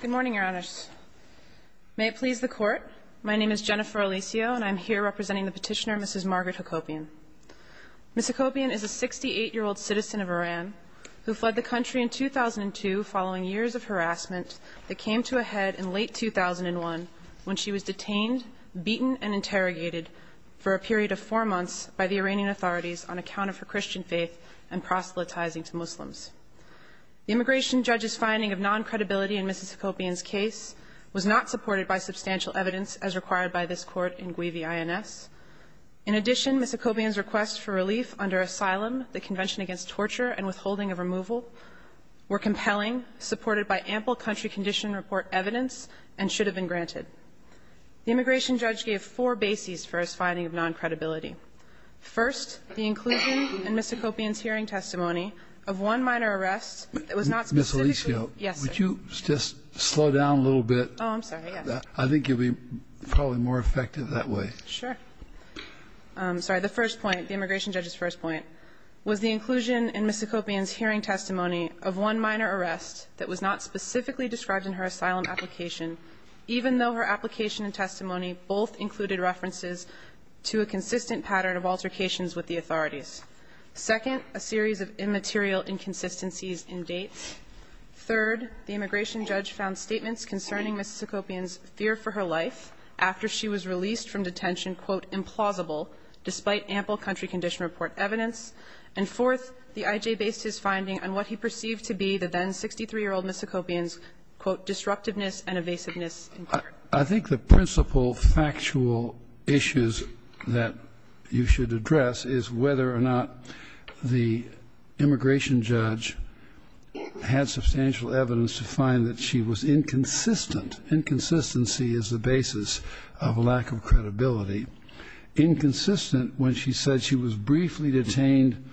Good morning, Your Honors. May it please the Court, my name is Jennifer Alisio and I'm here representing the petitioner, Mrs. Margaret Hakopian. Mrs. Hakopian is a 68-year-old citizen of Iran who fled the country in 2002 following years of harassment that came to a head in late 2001 when she was detained, beaten, and interrogated for a period of four months by the Iranian authorities on account of her Christian faith and proselytizing to Muslims. The immigration judge's finding of non-credibility in Mrs. Hakopian's case was not supported by substantial evidence as required by this Court in Guivi I.N.S. In addition, Mrs. Hakopian's request for relief under asylum, the Convention Against Torture, and withholding of removal were compelling, supported by ample country condition report evidence, and should have been granted. The immigration judge gave four bases for his finding of non-credibility. First, the inclusion in Mrs. Hakopian's hearing testimony of one minor arrest that was not specifically Mrs. Alisio, would you just slow down a little bit? Oh, I'm sorry. I think you'll be probably more effective that way. Sure. Sorry. The first point, the immigration judge's first point, was the inclusion in Mrs. Hakopian's hearing testimony of one minor arrest that was not specifically described in her asylum application, even though her application and testimony both included references to a consistent pattern of altercations with the authorities. Second, a series of immaterial inconsistencies in dates. Third, the immigration judge found statements concerning Mrs. Hakopian's fear for her life after she was released from detention, quote, implausible, despite ample country condition report evidence. And fourth, the I.J. based his finding on what he perceived to be the then 63-year-old Mrs. Hakopian's, quote, disruptiveness and evasiveness in court. I think the principal factual issues that you should address is whether or not the immigration judge had substantial evidence to find that she was inconsistent. Inconsistency is the basis of lack of credibility. Inconsistent when she said she was released,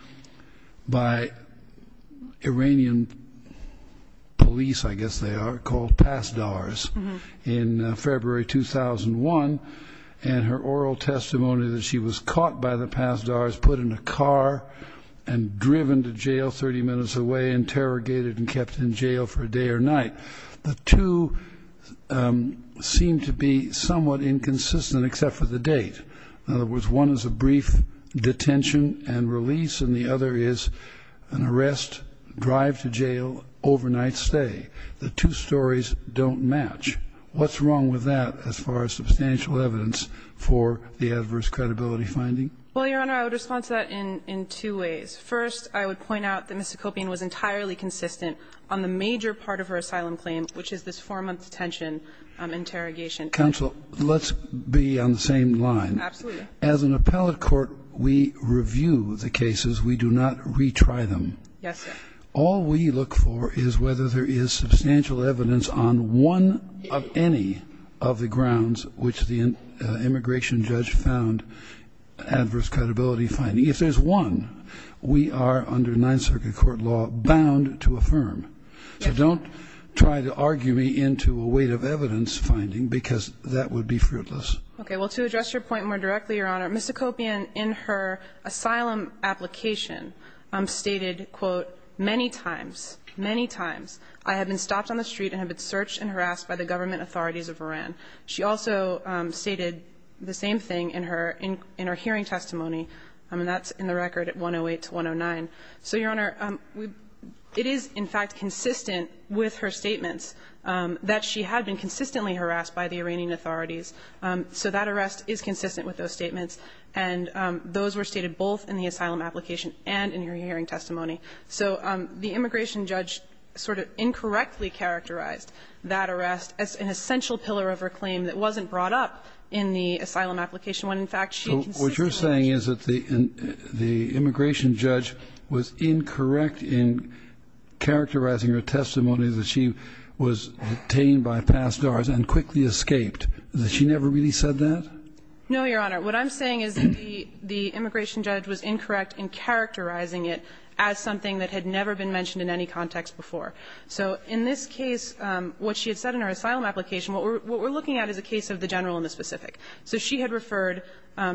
I guess they are called pass-dars, in February 2001, and her oral testimony that she was caught by the pass-dars, put in a car and driven to jail 30 minutes away, interrogated and kept in jail for a day or night. The two seem to be somewhat inconsistent except for the date. In other words, one is a brief detention and The two stories don't match. What's wrong with that as far as substantial evidence for the adverse credibility finding? Well, Your Honor, I would respond to that in two ways. First, I would point out that Mrs. Hakopian was entirely consistent on the major part of her asylum claim, which is this 4-month detention interrogation. Counsel, let's be on the same line. Absolutely. As an appellate court, we review the cases. We do not retry them. Yes, sir. All we look for is whether there is substantial evidence on one of any of the grounds which the immigration judge found adverse credibility finding. If there's one, we are under Ninth Circuit court law bound to affirm. So don't try to argue me into a weight of evidence finding, because that would be fruitless. Okay. Well, to address your point more directly, Your Honor, Mrs. Hakopian, in her asylum application, stated, quote, many times, many times, I have been stopped on the street and have been searched and harassed by the government authorities of Iran. She also stated the same thing in her hearing testimony. And that's in the record at 108 to 109. So, Your Honor, it is, in fact, consistent with her statements that she had been consistently harassed by the Iranian authorities. So that arrest is consistent with those statements. And those were stated both in the asylum application and in her hearing testimony. So the immigration judge sort of incorrectly characterized that arrest as an essential pillar of her claim that wasn't brought up in the asylum application, when, in fact, she consistently harassed her. So what you're saying is that the immigration judge was incorrect in characterizing her testimony that she was detained by past doors and quickly escaped. Has she never really said that? No, Your Honor. What I'm saying is that the immigration judge was incorrect in characterizing it as something that had never been mentioned in any context before. So in this case, what she had said in her asylum application, what we're looking at is a case of the general and the specific. So she had referred,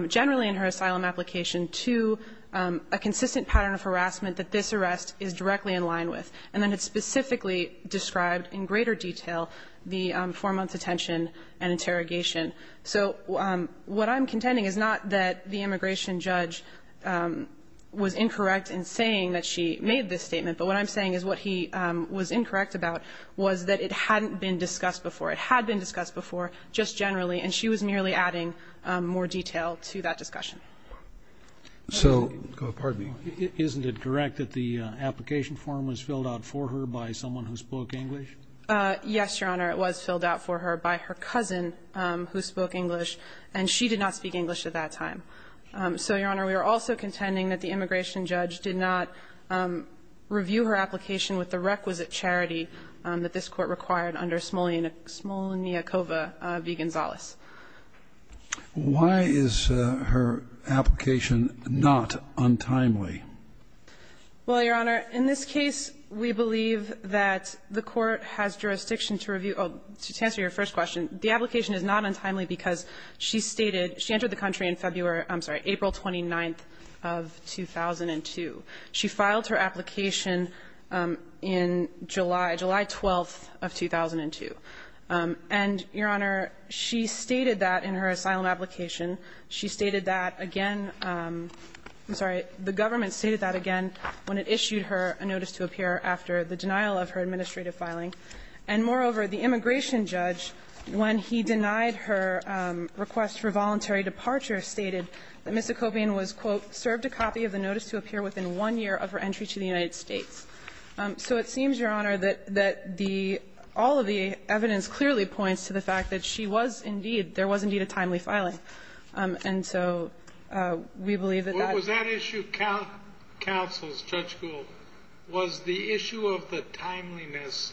generally in her asylum application, to a consistent pattern of harassment that this arrest is directly in line with. And then it specifically described in greater detail the four-month detention and interrogation. So what I'm contending is not that the immigration judge was incorrect in saying that she made this statement, but what I'm saying is what he was incorrect about was that it hadn't been discussed before. It had been discussed before, just generally, and she was merely adding more detail to that discussion. So, pardon me, isn't it correct that the application form was filled out for her by someone who spoke English? Yes, Your Honor, it was filled out for her by her cousin who spoke English, and she did not speak English at that time. So, Your Honor, we are also contending that the immigration judge did not review her application with the requisite charity that this court required under Smolniakova v. Gonzales. Why is her application not untimely? Well, Your Honor, in this case, we believe that the court has jurisdiction to review or to answer your first question. The application is not untimely because she stated, she entered the country in February or, I'm sorry, April 29th of 2002. She filed her application in July, July 12th of 2002. And, Your Honor, she stated that in her asylum application, she stated that, again, I'm sorry, the government stated that, again, when it issued her a notice to appear after the denial of her administrative filing. And, moreover, the immigration judge, when he denied her request for voluntary departure, stated that Ms. Okobian was, quote, served a copy of the notice to appear within one year of her entry to the United States. So it seems, Your Honor, that the all of the evidence clearly points to the fact that she was indeed, there was indeed a timely filing. And so we believe that that was that issue. Counsel's, Judge Gould, was the issue of the timeliness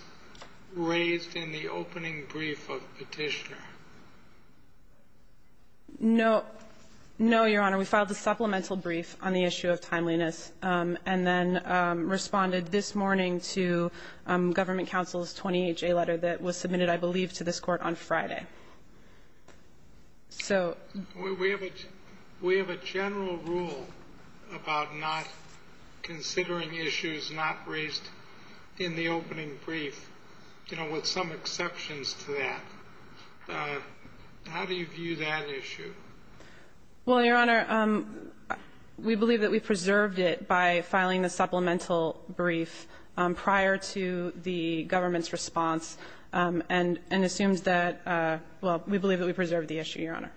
raised in the opening brief of Petitioner? No, no, Your Honor. We filed a supplemental brief on the issue of timeliness, and then responded this morning to government counsel's 28-J letter that was submitted, I believe, to this Court on Friday. So we have a general rule about not considering issues not raised in the opening brief, you know, with some exceptions to that. How do you view that issue? Well, Your Honor, we believe that we preserved it by filing the supplemental brief prior to the government's response, and assumes that, well, we believe that we preserved the issue, Your Honor.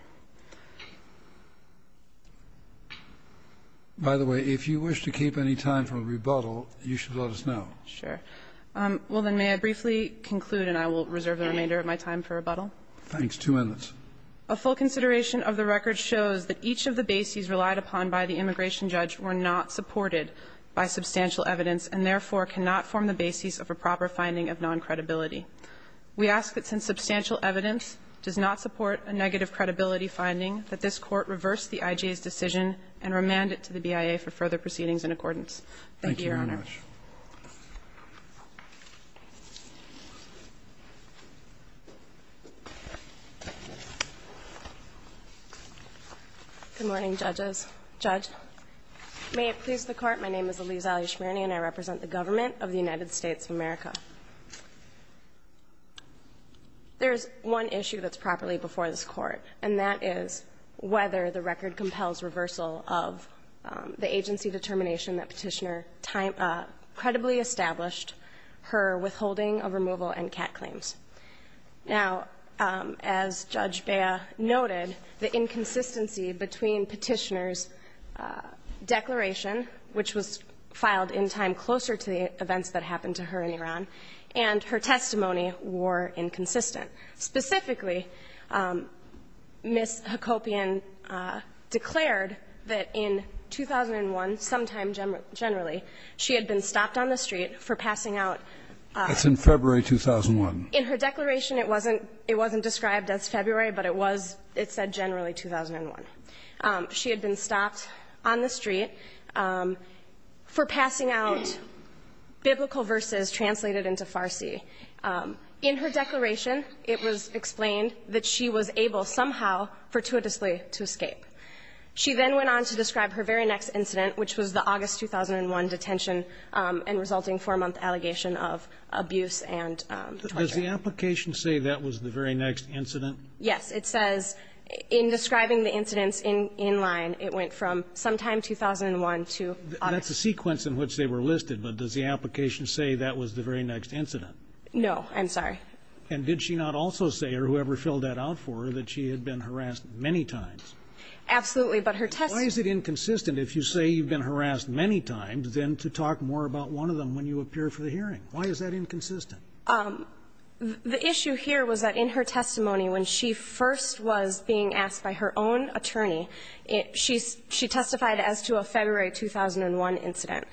By the way, if you wish to keep any time for a rebuttal, you should let us know. Sure. Well, then, may I briefly conclude, and I will reserve the remainder of my time for rebuttal? Thanks. Two minutes. A full consideration of the record shows that each of the bases relied upon by the and, therefore, cannot form the bases of a proper finding of non-credibility. We ask that since substantial evidence does not support a negative credibility finding, that this Court reverse the IJA's decision and remand it to the BIA for further proceedings in accordance. Thank you, Your Honor. Thank you very much. Good morning, judges. Judge, may it please the Court, my name is Elise Allie Schmierny, and I represent the government of the United States of America. There is one issue that's properly before this Court, and that is whether the record compels reversal of the agency determination that Petitioner credibly established her withholding of removal and CAT claims. Now, as Judge Bea noted, the inconsistency between Petitioner's declaration, which was filed in time closer to the events that happened to her in Iran, and her testimony were inconsistent. Specifically, Ms. Hakobian declared that in 2001, sometime generally, she had been stopped on the street for passing out biblical verses translated into Farsi. In her declaration, it was explained that she was able somehow fortuitously to escape. She then went on to describe her very next incident, which was the August 2001 detention and resulting four-month allegation of abuse and torture. Does the application say that was the very next incident? Yes. It says in describing the incidents in line, it went from sometime 2001 to August. That's a sequence in which they were listed, but does the application say that was the very next incident? No. I'm sorry. And did she not also say, or whoever filled that out for her, that she had been harassed many times? Absolutely. But her testimony... about one of them when you appear for the hearing. Why is that inconsistent? The issue here was that in her testimony, when she first was being asked by her own attorney, she testified as to a February 2001 incident.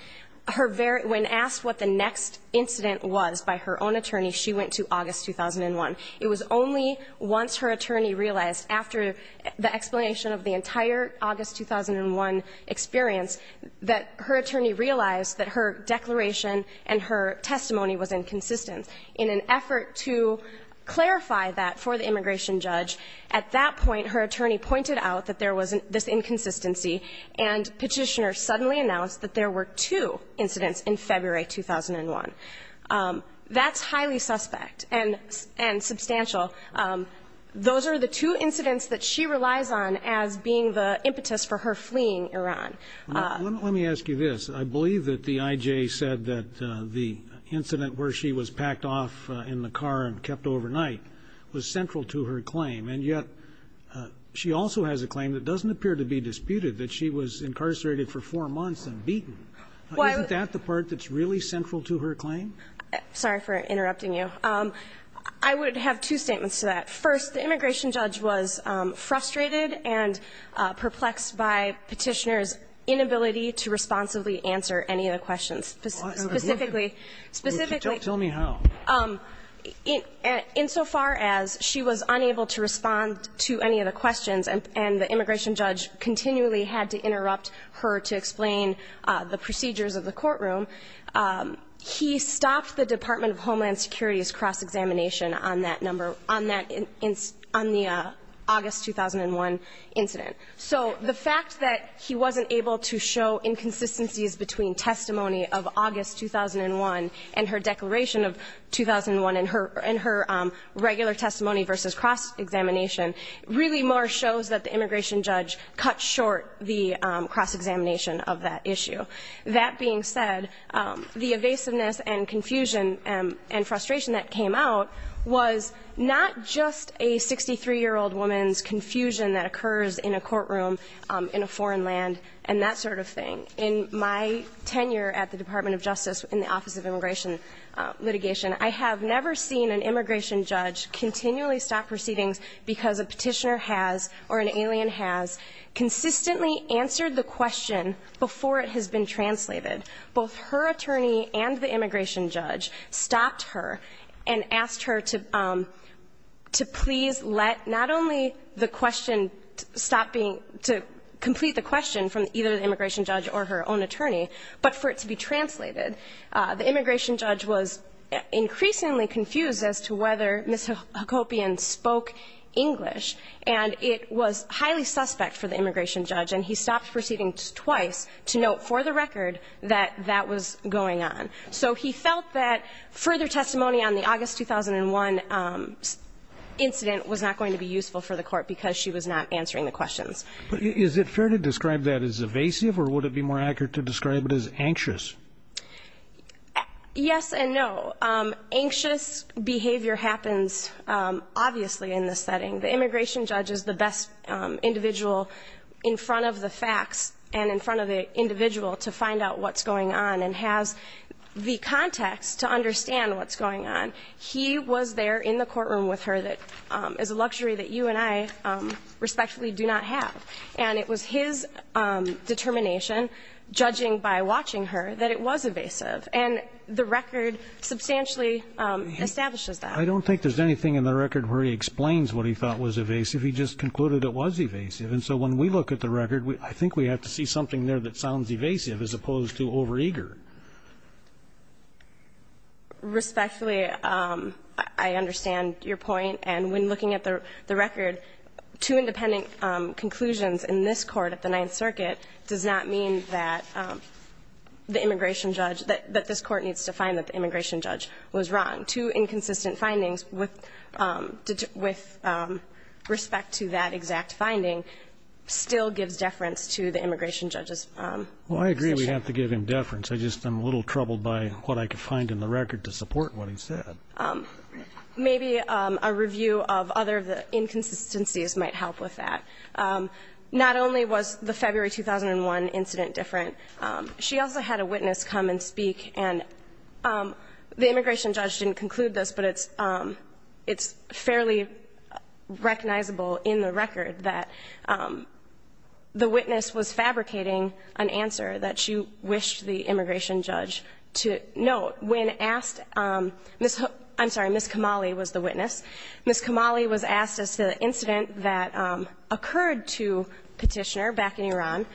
Her very — when asked what the next incident was by her own attorney, she went to August 2001. It was only once her attorney realized, after the explanation of the entire August 2001 experience, that her attorney realized that her declaration and her testimony was inconsistent. In an effort to clarify that for the immigration judge, at that point, her attorney pointed out that there was this inconsistency, and Petitioner suddenly announced that there were two incidents in February 2001. That's highly suspect and substantial. Those are the two incidents that she relies on as being the impetus for her fleeing Iran. Let me ask you this. I believe that the IJ said that the incident where she was packed off in the car and kept overnight was central to her claim. And yet, she also has a claim that doesn't appear to be disputed, that she was incarcerated for four months and beaten. Isn't that the part that's really central to her claim? Sorry for interrupting you. I would have two statements to that. First, the immigration judge was frustrated and perplexed by Petitioner's inability to responsibly answer any of the questions, specifically. Tell me how. Insofar as she was unable to respond to any of the questions and the immigration judge continually had to interrupt her to explain the procedures of the courtroom, he stopped the Department of Homeland Security's cross-examination on that number, on the August 2001 incident. So the fact that he wasn't able to show inconsistencies between testimony of August 2001 and her declaration of 2001 in her regular testimony versus cross-examination really more shows that the immigration judge cut short the cross-examination of that issue. That being said, the evasiveness and confusion and frustration that came out was not just a 63-year-old woman's confusion that occurs in a courtroom in a foreign land and that sort of thing. In my tenure at the Department of Justice in the Office of Immigration Litigation, I have never seen an immigration judge continually stop proceedings because a petitioner has or an alien has consistently answered the question before it has been translated. Both her attorney and the immigration judge stopped her and asked her to please let not only the question stop being to complete the question from either the immigration judge or her own attorney, but for it to be translated. The immigration judge was increasingly confused as to whether Ms. Hacopian spoke English, and it was highly suspect for the immigration judge, and he stopped proceedings twice to note for the record that that was going on. So he felt that further testimony on the August 2001 incident was not going to be useful for the court because she was not answering the questions. Is it fair to describe that as evasive, or would it be more accurate to describe it as anxious? Yes and no. Anxious behavior happens obviously in this setting. The immigration judge is the best individual in front of the facts and in front of the individual to find out what's going on and has the context to understand what's going on. He was there in the courtroom with her that is a luxury that you and I respectfully do not have. And it was his determination, judging by watching her, that it was evasive. And the record substantially establishes that. I don't think there's anything in the record where he explains what he thought was evasive. He just concluded it was evasive. And so when we look at the record, I think we have to see something there that sounds evasive as opposed to overeager. Respectfully, I understand your point. And when looking at the record, two independent conclusions in this Court at the Ninth Circuit does not mean that the immigration judge, that this Court needs to find that the immigration judge was wrong. Two inconsistent findings with respect to that exact finding still gives deference to the immigration judge's position. Well, I agree we have to give him deference. I just am a little troubled by what I could find in the record to support what he said. Maybe a review of other of the inconsistencies might help with that. Not only was the February 2001 incident different, she also had a witness come and conclude this, but it's fairly recognizable in the record that the witness was fabricating an answer that she wished the immigration judge to note. When asked, Ms. Kamali was the witness. Ms. Kamali was asked as to the incident that occurred to Petitioner back in Iran.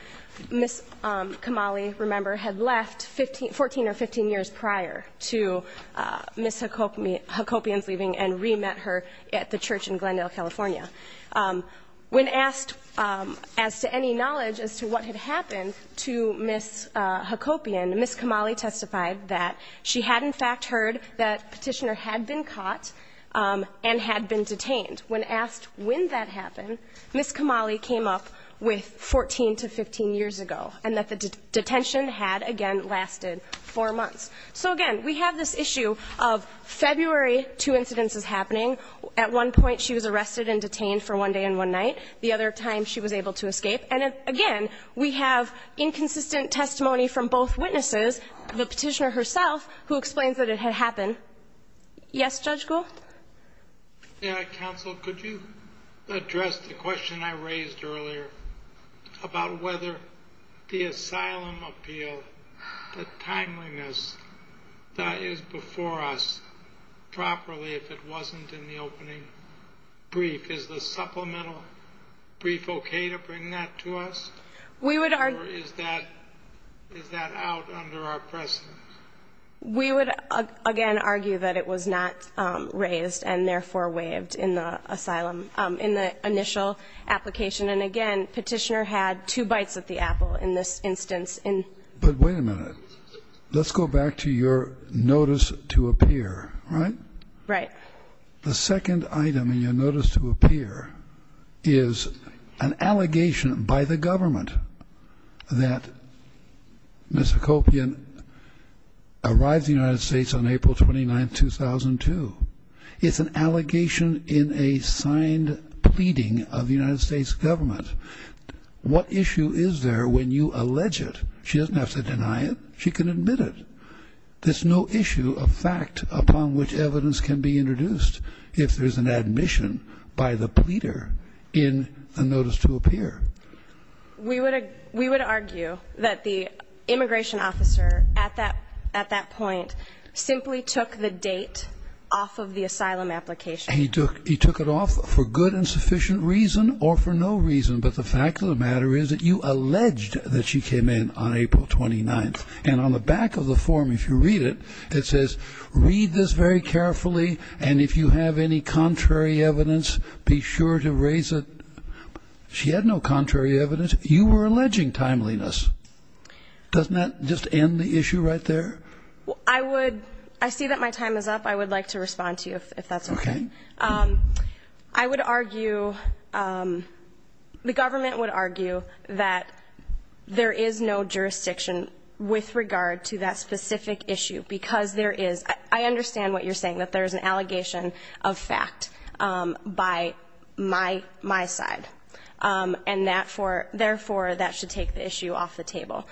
Ms. Kamali, remember, had left 14 or 15 years prior to Ms. Hakopyan's leaving and re-met her at the church in Glendale, California. When asked as to any knowledge as to what had happened to Ms. Hakopyan, Ms. Kamali testified that she had, in fact, heard that Petitioner had been caught and had been detained. When asked when that happened, Ms. Kamali came up with 14 to 15 years ago, and that the detention had, again, lasted four months. So, again, we have this issue of February, two incidents is happening. At one point she was arrested and detained for one day and one night. The other time she was able to escape. And, again, we have inconsistent testimony from both witnesses, the Petitioner herself, who explains that it had happened. Yes, Judge Gould? Counsel, could you address the question I raised earlier about whether the asylum appeal, the timeliness that is before us, properly, if it wasn't in the opening brief, is the supplemental brief okay to bring that to us? We would argue Or is that out under our presence? We would, again, argue that it was not raised and, therefore, waived in the asylum in the initial application. And, again, Petitioner had two bites at the apple in this instance. But wait a minute. Let's go back to your notice to appear, right? Right. The second item in your notice to appear is an allegation by the government that Ms. McCopian arrived in the United States on April 29, 2002. It's an allegation in a signed pleading of the United States government. What issue is there when you allege it? She doesn't have to deny it. She can admit it. There's no issue of fact upon which evidence can be introduced if there's an admission by the pleader in the notice to appear. We would argue that the immigration officer at that point simply took the date off of the asylum application. He took it off for good and sufficient reason or for no reason. But the fact of the matter is that you alleged that she came in on April 29. And on the back of the form, if you read it, it says, Read this very carefully, and if you have any contrary evidence, be sure to raise it. She had no contrary evidence. You were alleging timeliness. Doesn't that just end the issue right there? I see that my time is up. I would like to respond to you, if that's okay. Okay. I would argue, the government would argue that there is no jurisdiction with regard to that specific issue because there is. I understand what you're saying, that there is an allegation of fact by my side, and that for, therefore, that should take the issue off the table.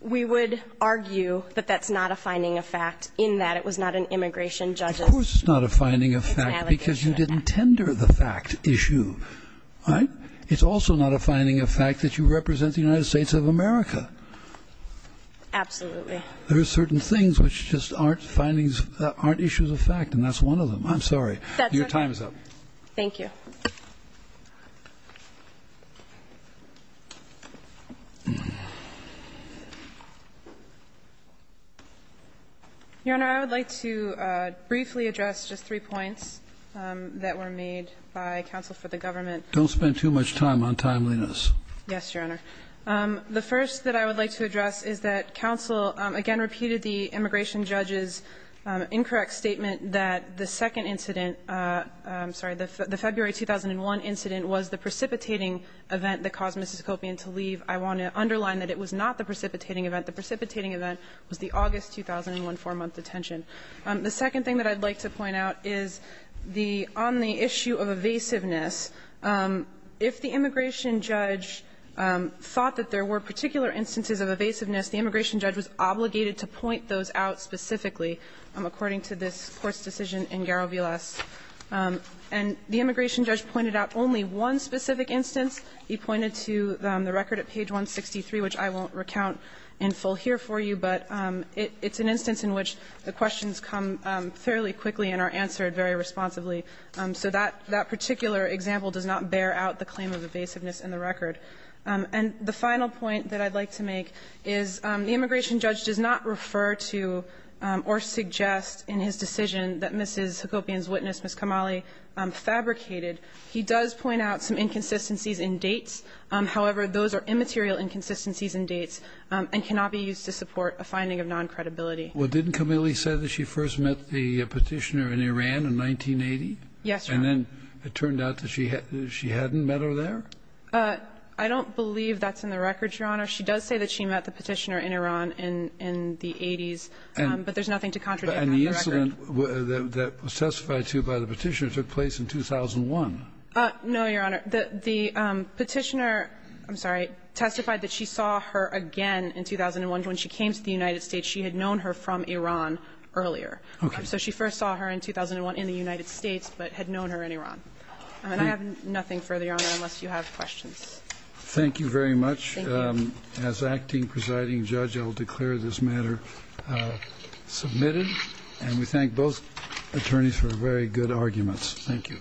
We would argue that that's not a finding of fact in that it was not an immigration judge's allegation of fact. Of course it's not a finding of fact because you didn't tender the fact issue. Right? It's also not a finding of fact that you represent the United States of America. Absolutely. There are certain things which just aren't findings, aren't issues of fact, and that's one of them. I'm sorry. Your time is up. Thank you. Your Honor, I would like to briefly address just three points that were made by counsel for the government. Don't spend too much time on timeliness. Yes, Your Honor. The first that I would like to address is that counsel, again, repeated the immigration judge's incorrect statement that the second incident, I'm sorry, the February 2001 incident was the precipitating event that caused Mississippopian to leave. I want to underline that it was not the precipitating event. The precipitating event was the August 2001 four-month detention. The second thing that I'd like to point out is the omni issue of evasiveness. If the immigration judge thought that there were particular instances of evasiveness, the immigration judge was obligated to point those out specifically, according to this Court's decision in Garo v. Less. And the immigration judge pointed out only one specific instance. He pointed to the record at page 163, which I won't recount in full here for you, but it's an instance in which the questions come fairly quickly and are answered very responsibly. So that particular example does not bear out the claim of evasiveness in the record. And the final point that I'd like to make is the immigration judge does not refer to or suggest in his decision that Mississippopian's witness, Ms. Kamali, fabricated. He does point out some inconsistencies in dates. However, those are immaterial inconsistencies in dates and cannot be used to support a finding of noncredibility. Well, didn't Kamali say that she first met the Petitioner in Iran in 1980? Yes, Your Honor. And then it turned out that she hadn't met her there? I don't believe that's in the record, Your Honor. She does say that she met the Petitioner in Iran in the 80s, but there's nothing to contradict that in the record. And the incident that was testified to by the Petitioner took place in 2001. No, Your Honor. The Petitioner – I'm sorry – testified that she saw her again in 2001. And when she came to the United States, she had known her from Iran earlier. Okay. So she first saw her in 2001 in the United States, but had known her in Iran. And I have nothing further, Your Honor, unless you have questions. Thank you very much. Thank you. As acting presiding judge, I'll declare this matter submitted. And we thank both attorneys for very good arguments. Thank you.